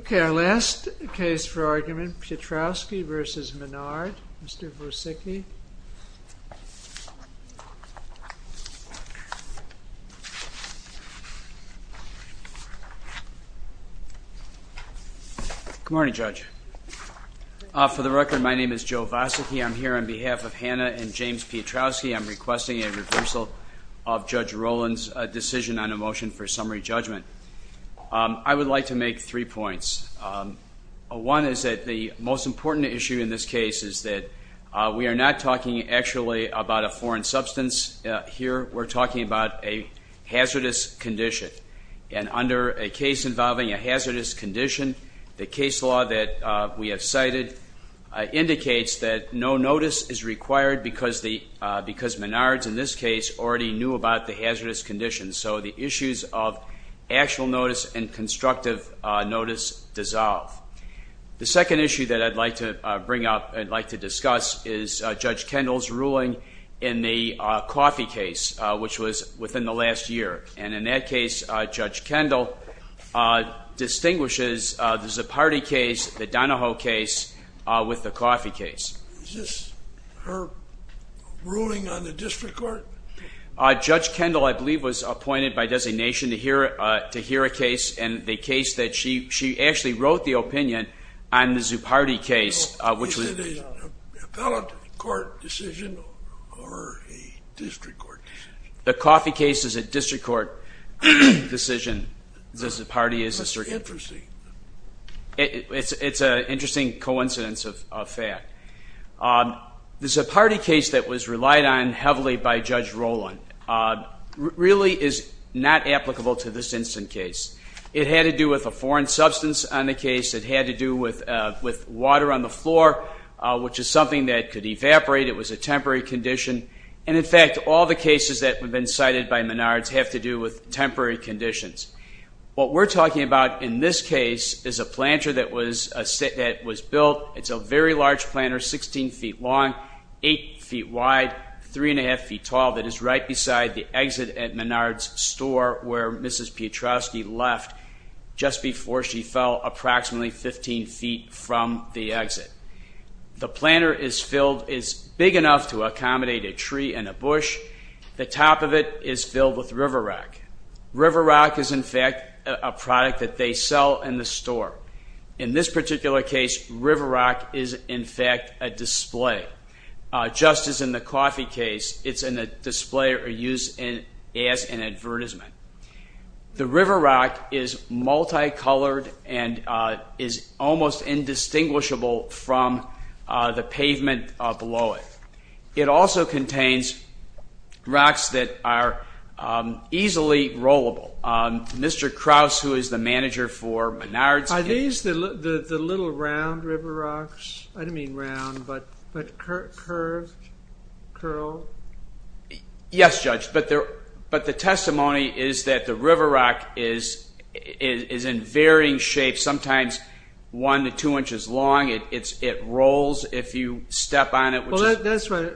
Ok, our last case for argument, Piotrowski v. Menard, Mr. Vosicky. Good morning, Judge. For the record, my name is Joe Vosicky. I'm here on behalf of Hannah and James Piotrowski. I'm requesting a reversal of Judge Rowland's decision on a motion for summary judgment. I would like to make three points. One is that the most important issue in this case is that we are not talking actually about a foreign substance. Here we're talking about a hazardous condition. And under a case involving a hazardous condition, the case law that we have cited indicates that no notice is required because Menard's, in this case, already knew about the hazardous condition. So the issues of actual notice and constructive notice dissolve. The second issue that I'd like to bring up, I'd like to discuss, is Judge Kendall's ruling in the coffee case, which was within the last year. And in that case, Judge Kendall distinguishes the Zipardi case, the Donahoe case, with the coffee case. Is this her ruling on the district court? Judge Kendall, I believe, was appointed by designation to hear a case, and the case that she actually wrote the opinion on the Zipardi case. Is it a ballot court decision or a district court decision? The coffee case is a district court decision. The Zipardi is a district court decision. It's an interesting coincidence of fact. Judge Kendall's ruling and Judge Roland's ruling really is not applicable to this instant case. It had to do with a foreign substance on the case. It had to do with water on the floor, which is something that could evaporate. It was a temporary condition. And, in fact, all the cases that have been cited by Menard's have to do with temporary conditions. What we're talking about in this case is a planter that was built. It's a very large planter, 16 feet long, 8 feet wide, 3 1⁄2 feet tall, that was built in the 1950s. It is right beside the exit at Menard's store where Mrs. Piotrowski left just before she fell approximately 15 feet from the exit. The planter is filled, is big enough to accommodate a tree and a bush. The top of it is filled with River Rock. River Rock is, in fact, a product that they sell in the store. In this particular case, River Rock is, in fact, a display. Just as in the coffee case, it's a display or used as an advertisement. The River Rock is multicolored and is almost indistinguishable from the pavement below it. It also contains rocks that are easily rollable. Mr. Krause, who is the manager for Menard's... Are these the little round River Rocks? I don't mean round, but curved, curled? Yes, Judge, but the testimony is that the River Rock is in varying shapes. Sometimes one to two inches long. It rolls if you step on it. That's right.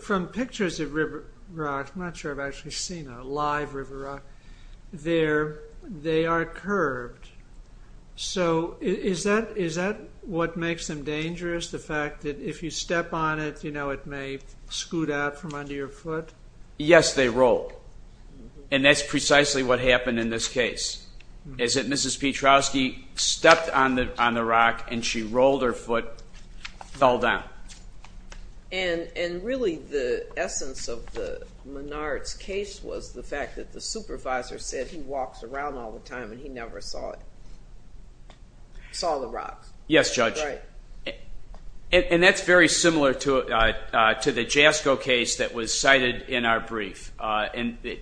From pictures of River Rock, I'm not sure if I've actually seen a live River Rock, they are curved. Is that what makes them dangerous, the fact that if you step on it, it may scoot out from under your foot? Yes, they roll, and that's precisely what happened in this case. Mrs. Petrowski stepped on the rock and she rolled her foot and fell down. And really the essence of Menard's case was the fact that the supervisor said he walks around all the time and he never saw the rock. Yes, Judge. And that's very similar to the JASCO case that was cited in our brief.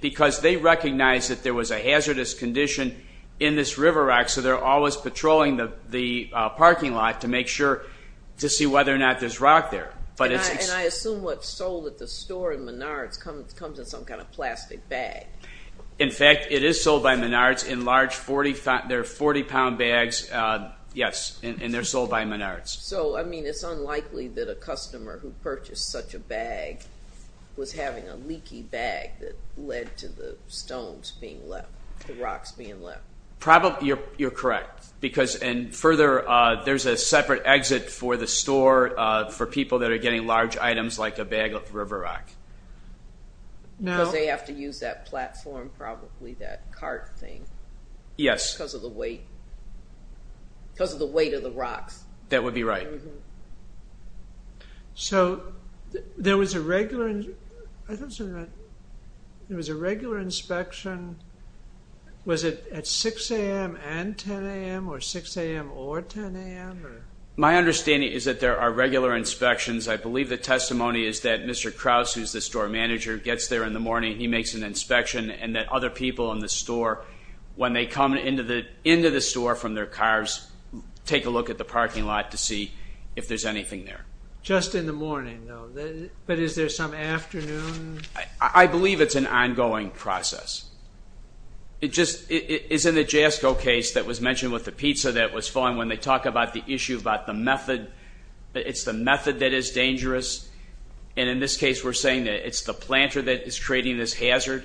Because they recognized that there was a hazardous condition in this River Rock, so they're always patrolling the parking lot to make sure to see whether or not there's rock there. And I assume what's sold at the store in Menard's comes in some kind of plastic bag. In fact, it is sold by Menard's in large 40-pound bags, yes, and they're sold by Menard's. So, I mean, it's unlikely that a customer who purchased such a bag was having a leaky bag that led to the stones being left, the rocks being left. Probably, you're correct. And further, there's a separate exit for the store for people that are getting large items like a bag of River Rock. Because they have to use that platform, probably that cart thing. Yes. Because of the weight. Because of the weight of the rocks. That would be right. So, there was a regular inspection. Was it at 6 a.m. and 10 a.m. or 6 a.m. or 10 a.m.? My understanding is that there are regular inspections. I believe the testimony is that Mr. Krause, who's the store manager, gets there in the morning, he makes an inspection, and that other people in the store, when they come into the store from their cars, take a look at the parking lot to see if there's anything there. Just in the morning, though. But is there some afternoon? I believe it's an ongoing process. It's in the JASCO case that was mentioned with the pizza that was falling, when they talk about the issue about the method. It's the method that is dangerous. And in this case, we're saying that it's the planter that is creating this hazard.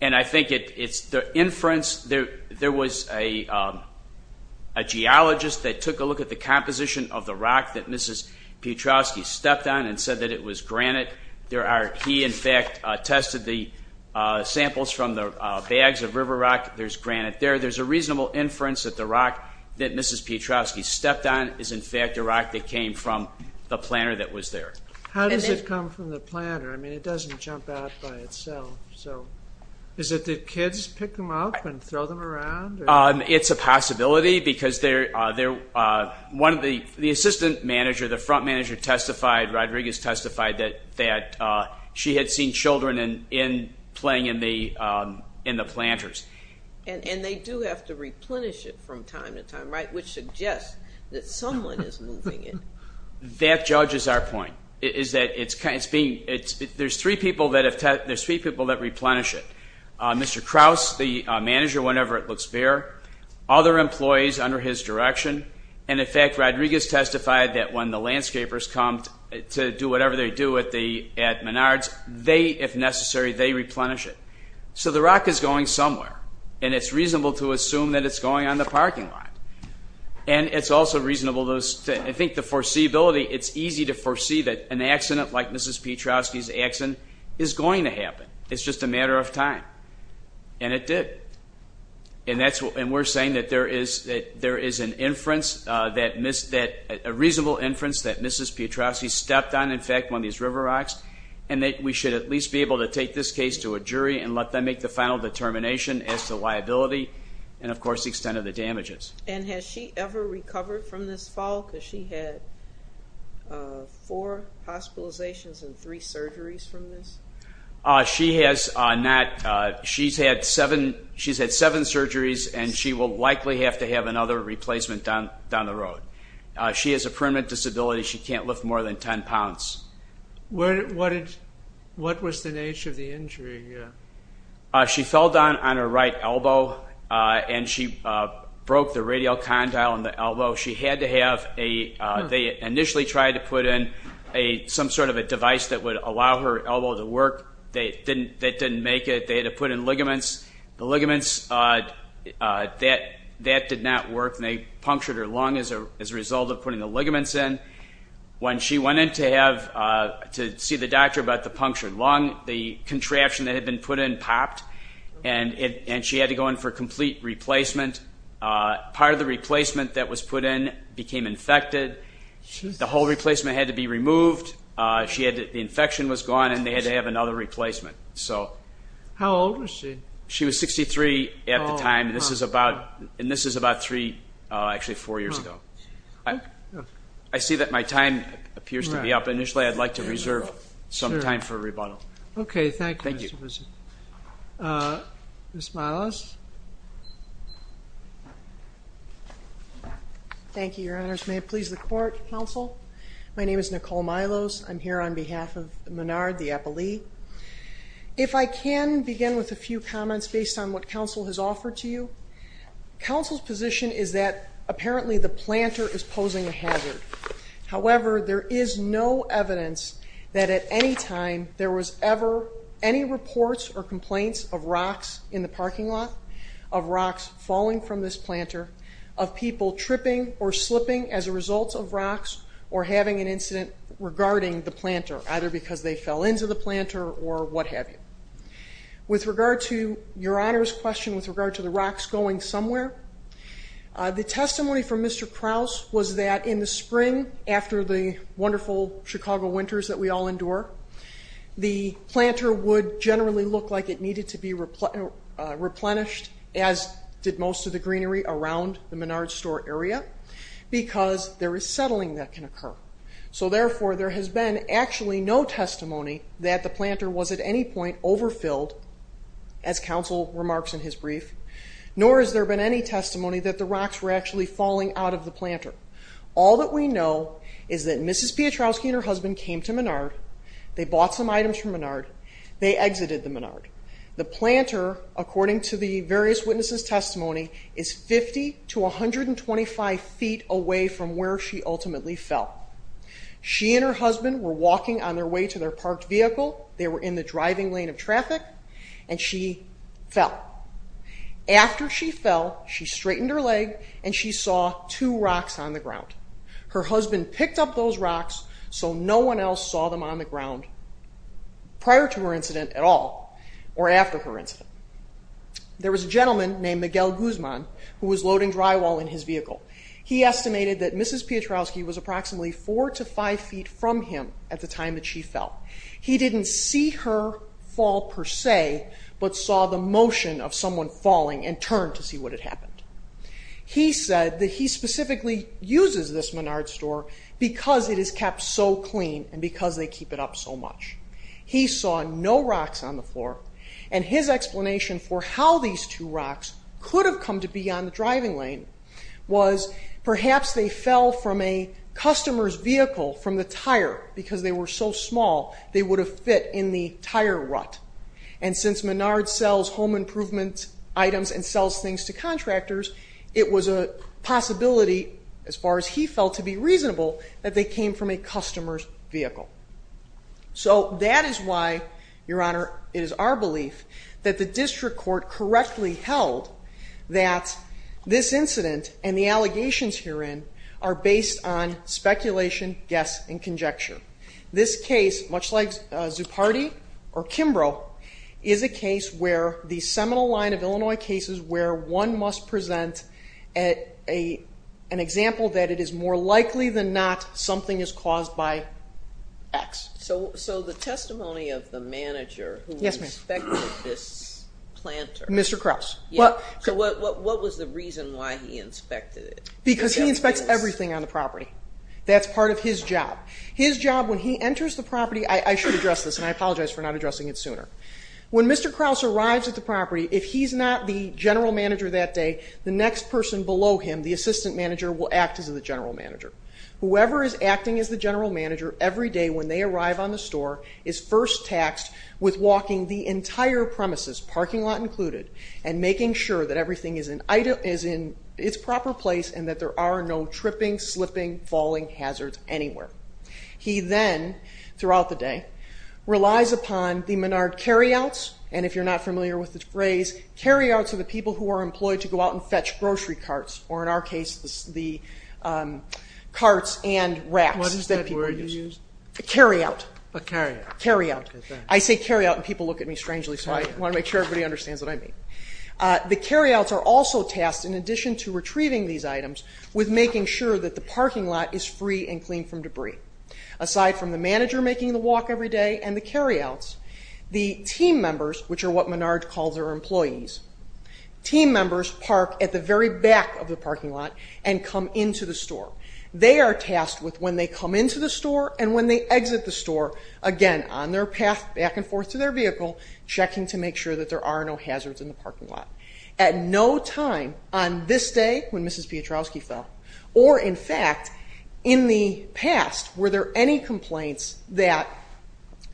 And I think it's the inference. There was a geologist that took a look at the composition of the rock that Mrs. Piotrowski stepped on and said that it was granite. He, in fact, tested the samples from the bags of river rock. There's granite there. There's a reasonable inference that the rock that Mrs. Piotrowski stepped on is, in fact, a rock that came from the planter that was there. How does it come from the planter? I mean, it doesn't jump out by itself. Is it that kids pick them up and throw them around? It's a possibility because the assistant manager, the front manager testified, Rodriguez testified, that she had seen children playing in the planters. And they do have to replenish it from time to time, right, which suggests that someone is moving it. That judges our point, is that there's three people that replenish it. Mr. Krause, the manager, whenever it looks fair, other employees under his direction, and, in fact, Rodriguez testified that when the landscapers come to do whatever they do at Menards, they, if necessary, they replenish it. So the rock is going somewhere, and it's reasonable to assume that it's going on the parking lot. And it's also reasonable, I think, the foreseeability, it's easy to foresee that an accident like Mrs. Pietrowski's accident is going to happen. It's just a matter of time. And it did. And we're saying that there is an inference, a reasonable inference that Mrs. Pietrowski stepped on, in fact, one of these river rocks, and that we should at least be able to take this case to a jury and let them make the final determination as to liability and, of course, the extent of the damages. And has she ever recovered from this fall? Because she had four hospitalizations and three surgeries from this. She has not. She's had seven surgeries, and she will likely have to have another replacement down the road. She has a permanent disability. She can't lift more than 10 pounds. What was the nature of the injury? She fell down on her right elbow, and she broke the radial condyle in the elbow. She had to have a ñ they initially tried to put in some sort of a device that would allow her elbow to work. That didn't make it. They had to put in ligaments. The ligaments, that did not work, and they punctured her lung as a result of putting the ligaments in. When she went in to see the doctor about the punctured lung, the contraption that had been put in popped, and she had to go in for a complete replacement. Part of the replacement that was put in became infected. The whole replacement had to be removed. The infection was gone, and they had to have another replacement. How old was she? She was 63 at the time, and this is about three, actually four years ago. I see that my time appears to be up. Initially, I'd like to reserve some time for rebuttal. Okay. Thank you. Ms. Milos. Thank you, Your Honors. May it please the Court, Counsel. My name is Nicole Milos. I'm here on behalf of Menard, the appellee. If I can begin with a few comments based on what Counsel has offered to you. However, there is no evidence that at any time there was ever any reports or complaints of rocks in the parking lot, of rocks falling from this planter, of people tripping or slipping as a result of rocks, or having an incident regarding the planter, either because they fell into the planter or what have you. With regard to Your Honor's question with regard to the rocks going somewhere, the testimony from Mr. Krause was that in the spring, after the wonderful Chicago winters that we all endure, the planter would generally look like it needed to be replenished, as did most of the greenery around the Menard store area, because there is settling that can occur. So therefore, there has been actually no testimony that the planter was at any point overfilled, as Counsel remarks in his brief, nor has there been any testimony that the rocks were actually falling out of the planter. All that we know is that Mrs. Piotrowski and her husband came to Menard, they bought some items from Menard, they exited the Menard. The planter, according to the various witnesses' testimony, is 50 to 125 feet away from where she ultimately fell. She and her husband were walking on their way to their parked vehicle, they were in the driving lane of traffic, and she fell. After she fell, she straightened her leg and she saw two rocks on the ground. Her husband picked up those rocks so no one else saw them on the ground prior to her incident at all, or after her incident. There was a gentleman named Miguel Guzman who was loading drywall in his vehicle. He estimated that Mrs. Piotrowski was approximately 4 to 5 feet from him at the time that she fell. He didn't see her fall per se, but saw the motion of someone falling and turned to see what had happened. He said that he specifically uses this Menard store because it is kept so clean and because they keep it up so much. He saw no rocks on the floor, and his explanation for how these two rocks could have come to be on the driving lane was perhaps they fell from a customer's vehicle, from the tire, because they were so small they would have fit in the tire rut. And since Menard sells home improvement items and sells things to contractors, it was a possibility, as far as he felt to be reasonable, that they came from a customer's vehicle. So that is why, Your Honor, it is our belief that the district court correctly held that this incident and the allegations herein are based on speculation, guess, and conjecture. This case, much like Zupardi or Kimbrough, is a case where the seminal line of Illinois cases where one must present an example that it is more likely than not something is caused by X. So the testimony of the manager who inspected this planter. Mr. Krause. So what was the reason why he inspected it? Because he inspects everything on the property. That's part of his job. His job when he enters the property, I should address this, and I apologize for not addressing it sooner. When Mr. Krause arrives at the property, if he's not the general manager that day, the next person below him, the assistant manager, will act as the general manager. Whoever is acting as the general manager every day when they arrive on the store is first taxed with walking the entire premises, parking lot included, and making sure that everything is in its proper place and that there are no tripping, slipping, falling hazards anywhere. He then, throughout the day, relies upon the Menard carryouts, and if you're not familiar with the phrase, carryouts are the people who are employed to go out and fetch grocery carts, or in our case the carts and racks that people use. What is that word you use? A carryout. A carryout. Carryout. I say carryout and people look at me strangely, so I want to make sure everybody understands what I mean. The carryouts are also tasked, in addition to retrieving these items, with making sure that the parking lot is free and clean from debris. Aside from the manager making the walk every day and the carryouts, the team members, which are what Menard calls their employees, team members park at the very back of the parking lot and come into the store. They are tasked with, when they come into the store and when they exit the store, again, on their path back and forth to their vehicle, checking to make sure that there are no hazards in the parking lot. At no time on this day, when Mrs. Piotrowski fell, or in fact in the past were there any complaints that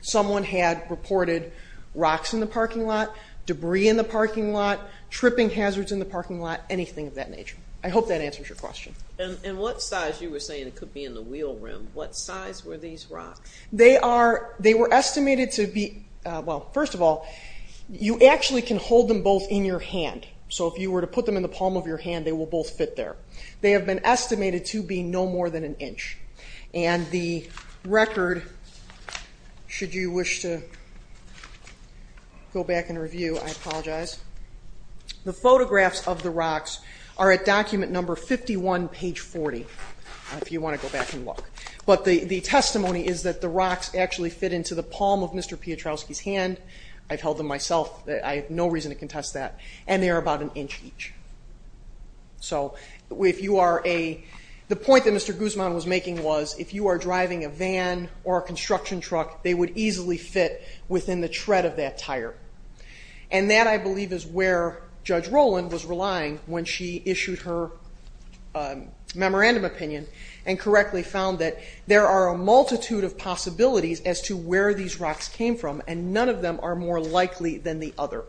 someone had reported rocks in the parking lot, debris in the parking lot, tripping hazards in the parking lot, anything of that nature. I hope that answers your question. And what size? You were saying it could be in the wheel rim. What size were these rocks? They were estimated to be, well, first of all, you actually can hold them both in your hand. So if you were to put them in the palm of your hand, they will both fit there. They have been estimated to be no more than an inch. And the record, should you wish to go back and review, I apologize. The photographs of the rocks are at document number 51, page 40, if you want to go back and look. But the testimony is that the rocks actually fit into the palm of Mr. Piotrowski's hand. I've held them myself. I have no reason to contest that. And they are about an inch each. So the point that Mr. Guzman was making was, if you are driving a van or a construction truck, they would easily fit within the tread of that tire. And that, I believe, is where Judge Rowland was relying when she issued her memorandum opinion and correctly found that there are a multitude of possibilities as to where these rocks came from, and none of them are more likely than the other.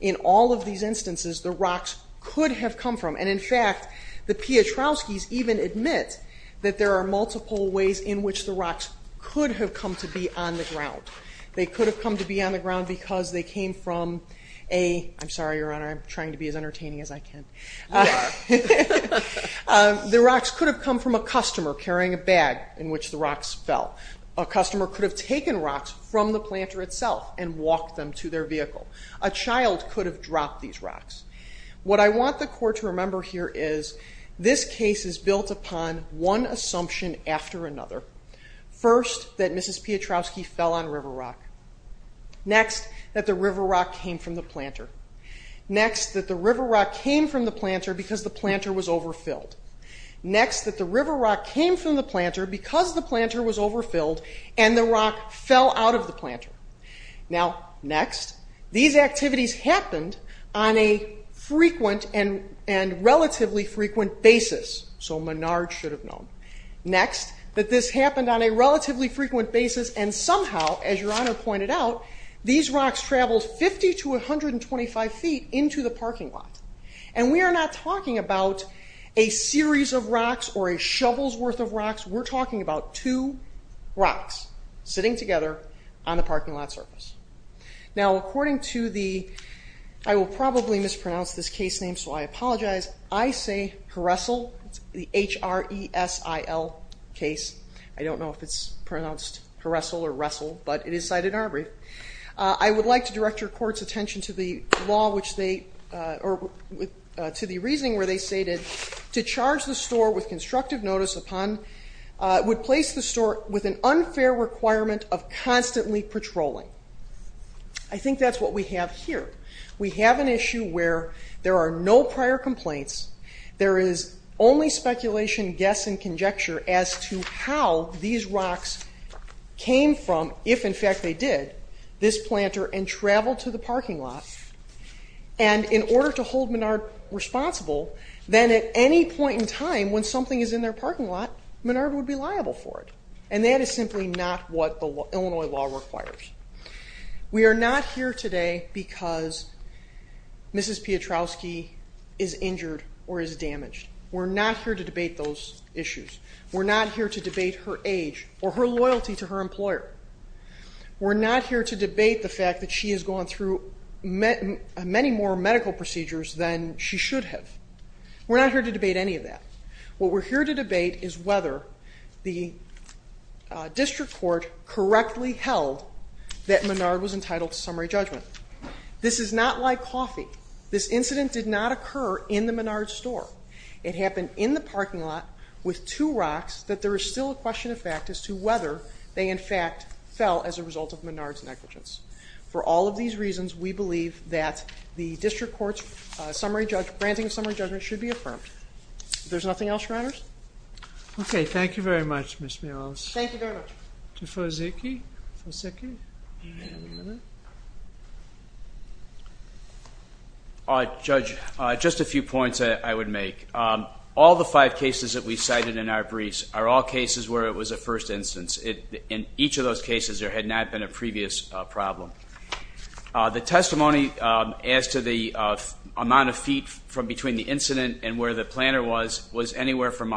In all of these instances, the rocks could have come from, and in fact, the Piotrowskis even admit that there are multiple ways in which the rocks could have come to be on the ground. They could have come to be on the ground because they came from a I'm sorry, Your Honor, I'm trying to be as entertaining as I can. The rocks could have come from a customer carrying a bag in which the rocks fell. A customer could have taken rocks from the planter itself and walked them to their vehicle. A child could have dropped these rocks. What I want the Court to remember here is this case is built upon one assumption after another. First, that Mrs. Piotrowski fell on river rock. Next, that the river rock came from the planter. Next, that the river rock came from the planter because the planter was overfilled. Next, that the river rock came from the planter because the planter was overfilled and the rock fell out of the planter. Now, next, these activities happened on a frequent and relatively frequent basis. So Menard should have known. Next, that this happened on a relatively frequent basis and somehow, as Your Honor pointed out, these rocks traveled 50 to 125 feet into the parking lot. And we are not talking about a series of rocks or a shovel's worth of rocks. We're talking about two rocks sitting together on the parking lot surface. Now, according to the I will probably mispronounce this case name, so I apologize. I say Haressel, the H-R-E-S-I-L case. I don't know if it's pronounced Haressel or Ressel, but it is cited in our brief. I would like to direct Your Court's attention to the law which they or to the reasoning where they stated to charge the store with constructive notice upon would place the store with an unfair requirement of constantly patrolling. I think that's what we have here. We have an issue where there are no prior complaints. There is only speculation, guess, and conjecture as to how these rocks came from, if in fact they did, this planter and traveled to the parking lot. And in order to hold Menard responsible, then at any point in time when something is in their parking lot, Menard would be liable for it. And that is simply not what the Illinois law requires. We are not here today because Mrs. Piotrowski is injured or is damaged. We're not here to debate those issues. We're not here to debate her age or her loyalty to her employer. We're not here to debate the fact that she has gone through many more medical procedures than she should have. We're not here to debate any of that. What we're here to debate is whether the district court correctly held that Menard was entitled to summary judgment. This is not like coffee. This incident did not occur in the Menard store. It happened in the parking lot with two rocks that there is still a question of fact as to whether they, in fact, fell as a result of Menard's negligence. For all of these reasons, we believe that the district court's granting of summary judgment should be affirmed. There's nothing else, Your Honors? Okay. Thank you very much, Ms. Mills. Thank you very much. To Fosicky? Fosicky? Do you have a minute? Judge, just a few points I would make. All the five cases that we cited in our briefs are all cases where it was a first instance. In each of those cases, there had not been a previous problem. The testimony as to the amount of feet from between the incident and where the planter was, was anywhere from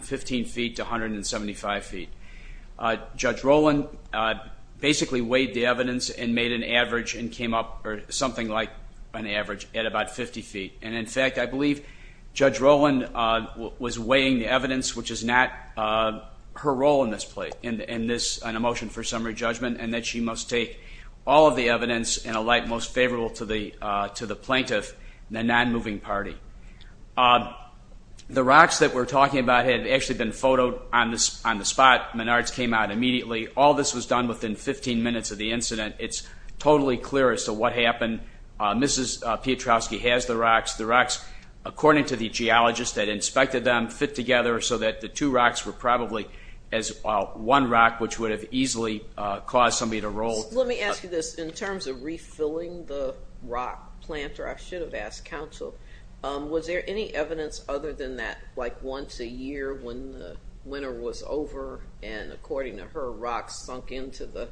15 feet to 175 feet. Judge Rowland basically weighed the evidence and made an average and came up with something like an average at about 50 feet. In fact, I believe Judge Rowland was weighing the evidence, which is not her role in this motion for summary judgment, and that she must take all of the evidence in a light most favorable to the plaintiff and the non-moving party. The rocks that we're talking about had actually been photoed on the spot. Menards came out immediately. All this was done within 15 minutes of the incident. It's totally clear as to what happened. Mrs. Piotrowski has the rocks. The rocks, according to the geologist that inspected them, fit together so that the two rocks were probably as one rock, which would have easily caused somebody to roll. Let me ask you this. In terms of refilling the rock planter, I should have asked counsel, was there any evidence other than that like once a year when the winter was over and, according to her, rocks sunk into the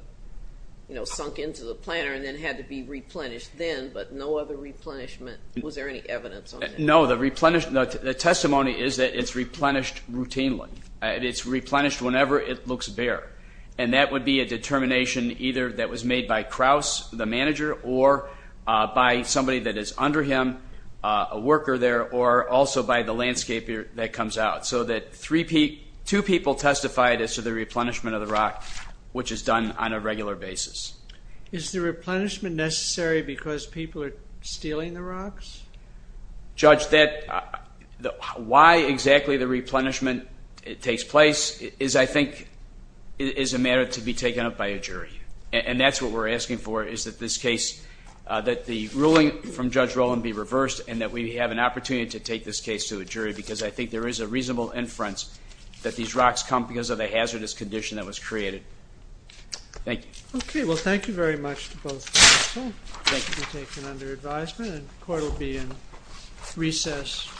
planter and then had to be replenished then but no other replenishment? Was there any evidence on that? No. The testimony is that it's replenished routinely. It's replenished whenever it looks bare, and that would be a determination either that was made by Kraus, the manager, or by somebody that is under him, a worker there, or also by the landscaper that comes out, so that two people testified as to the replenishment of the rock, which is done on a regular basis. Is the replenishment necessary because people are stealing the rocks? Judge, why exactly the replenishment takes place is, I think, is a matter to be taken up by a jury, and that's what we're asking for is that this case, that the ruling from Judge Rowland be reversed and that we have an opportunity to take this case to a jury because I think there is a reasonable inference that these rocks come because of the hazardous condition that was created. Thank you. Well, thank you very much to both of you. Thank you. The case will be taken under advisement and the court will be in recess. Thank you.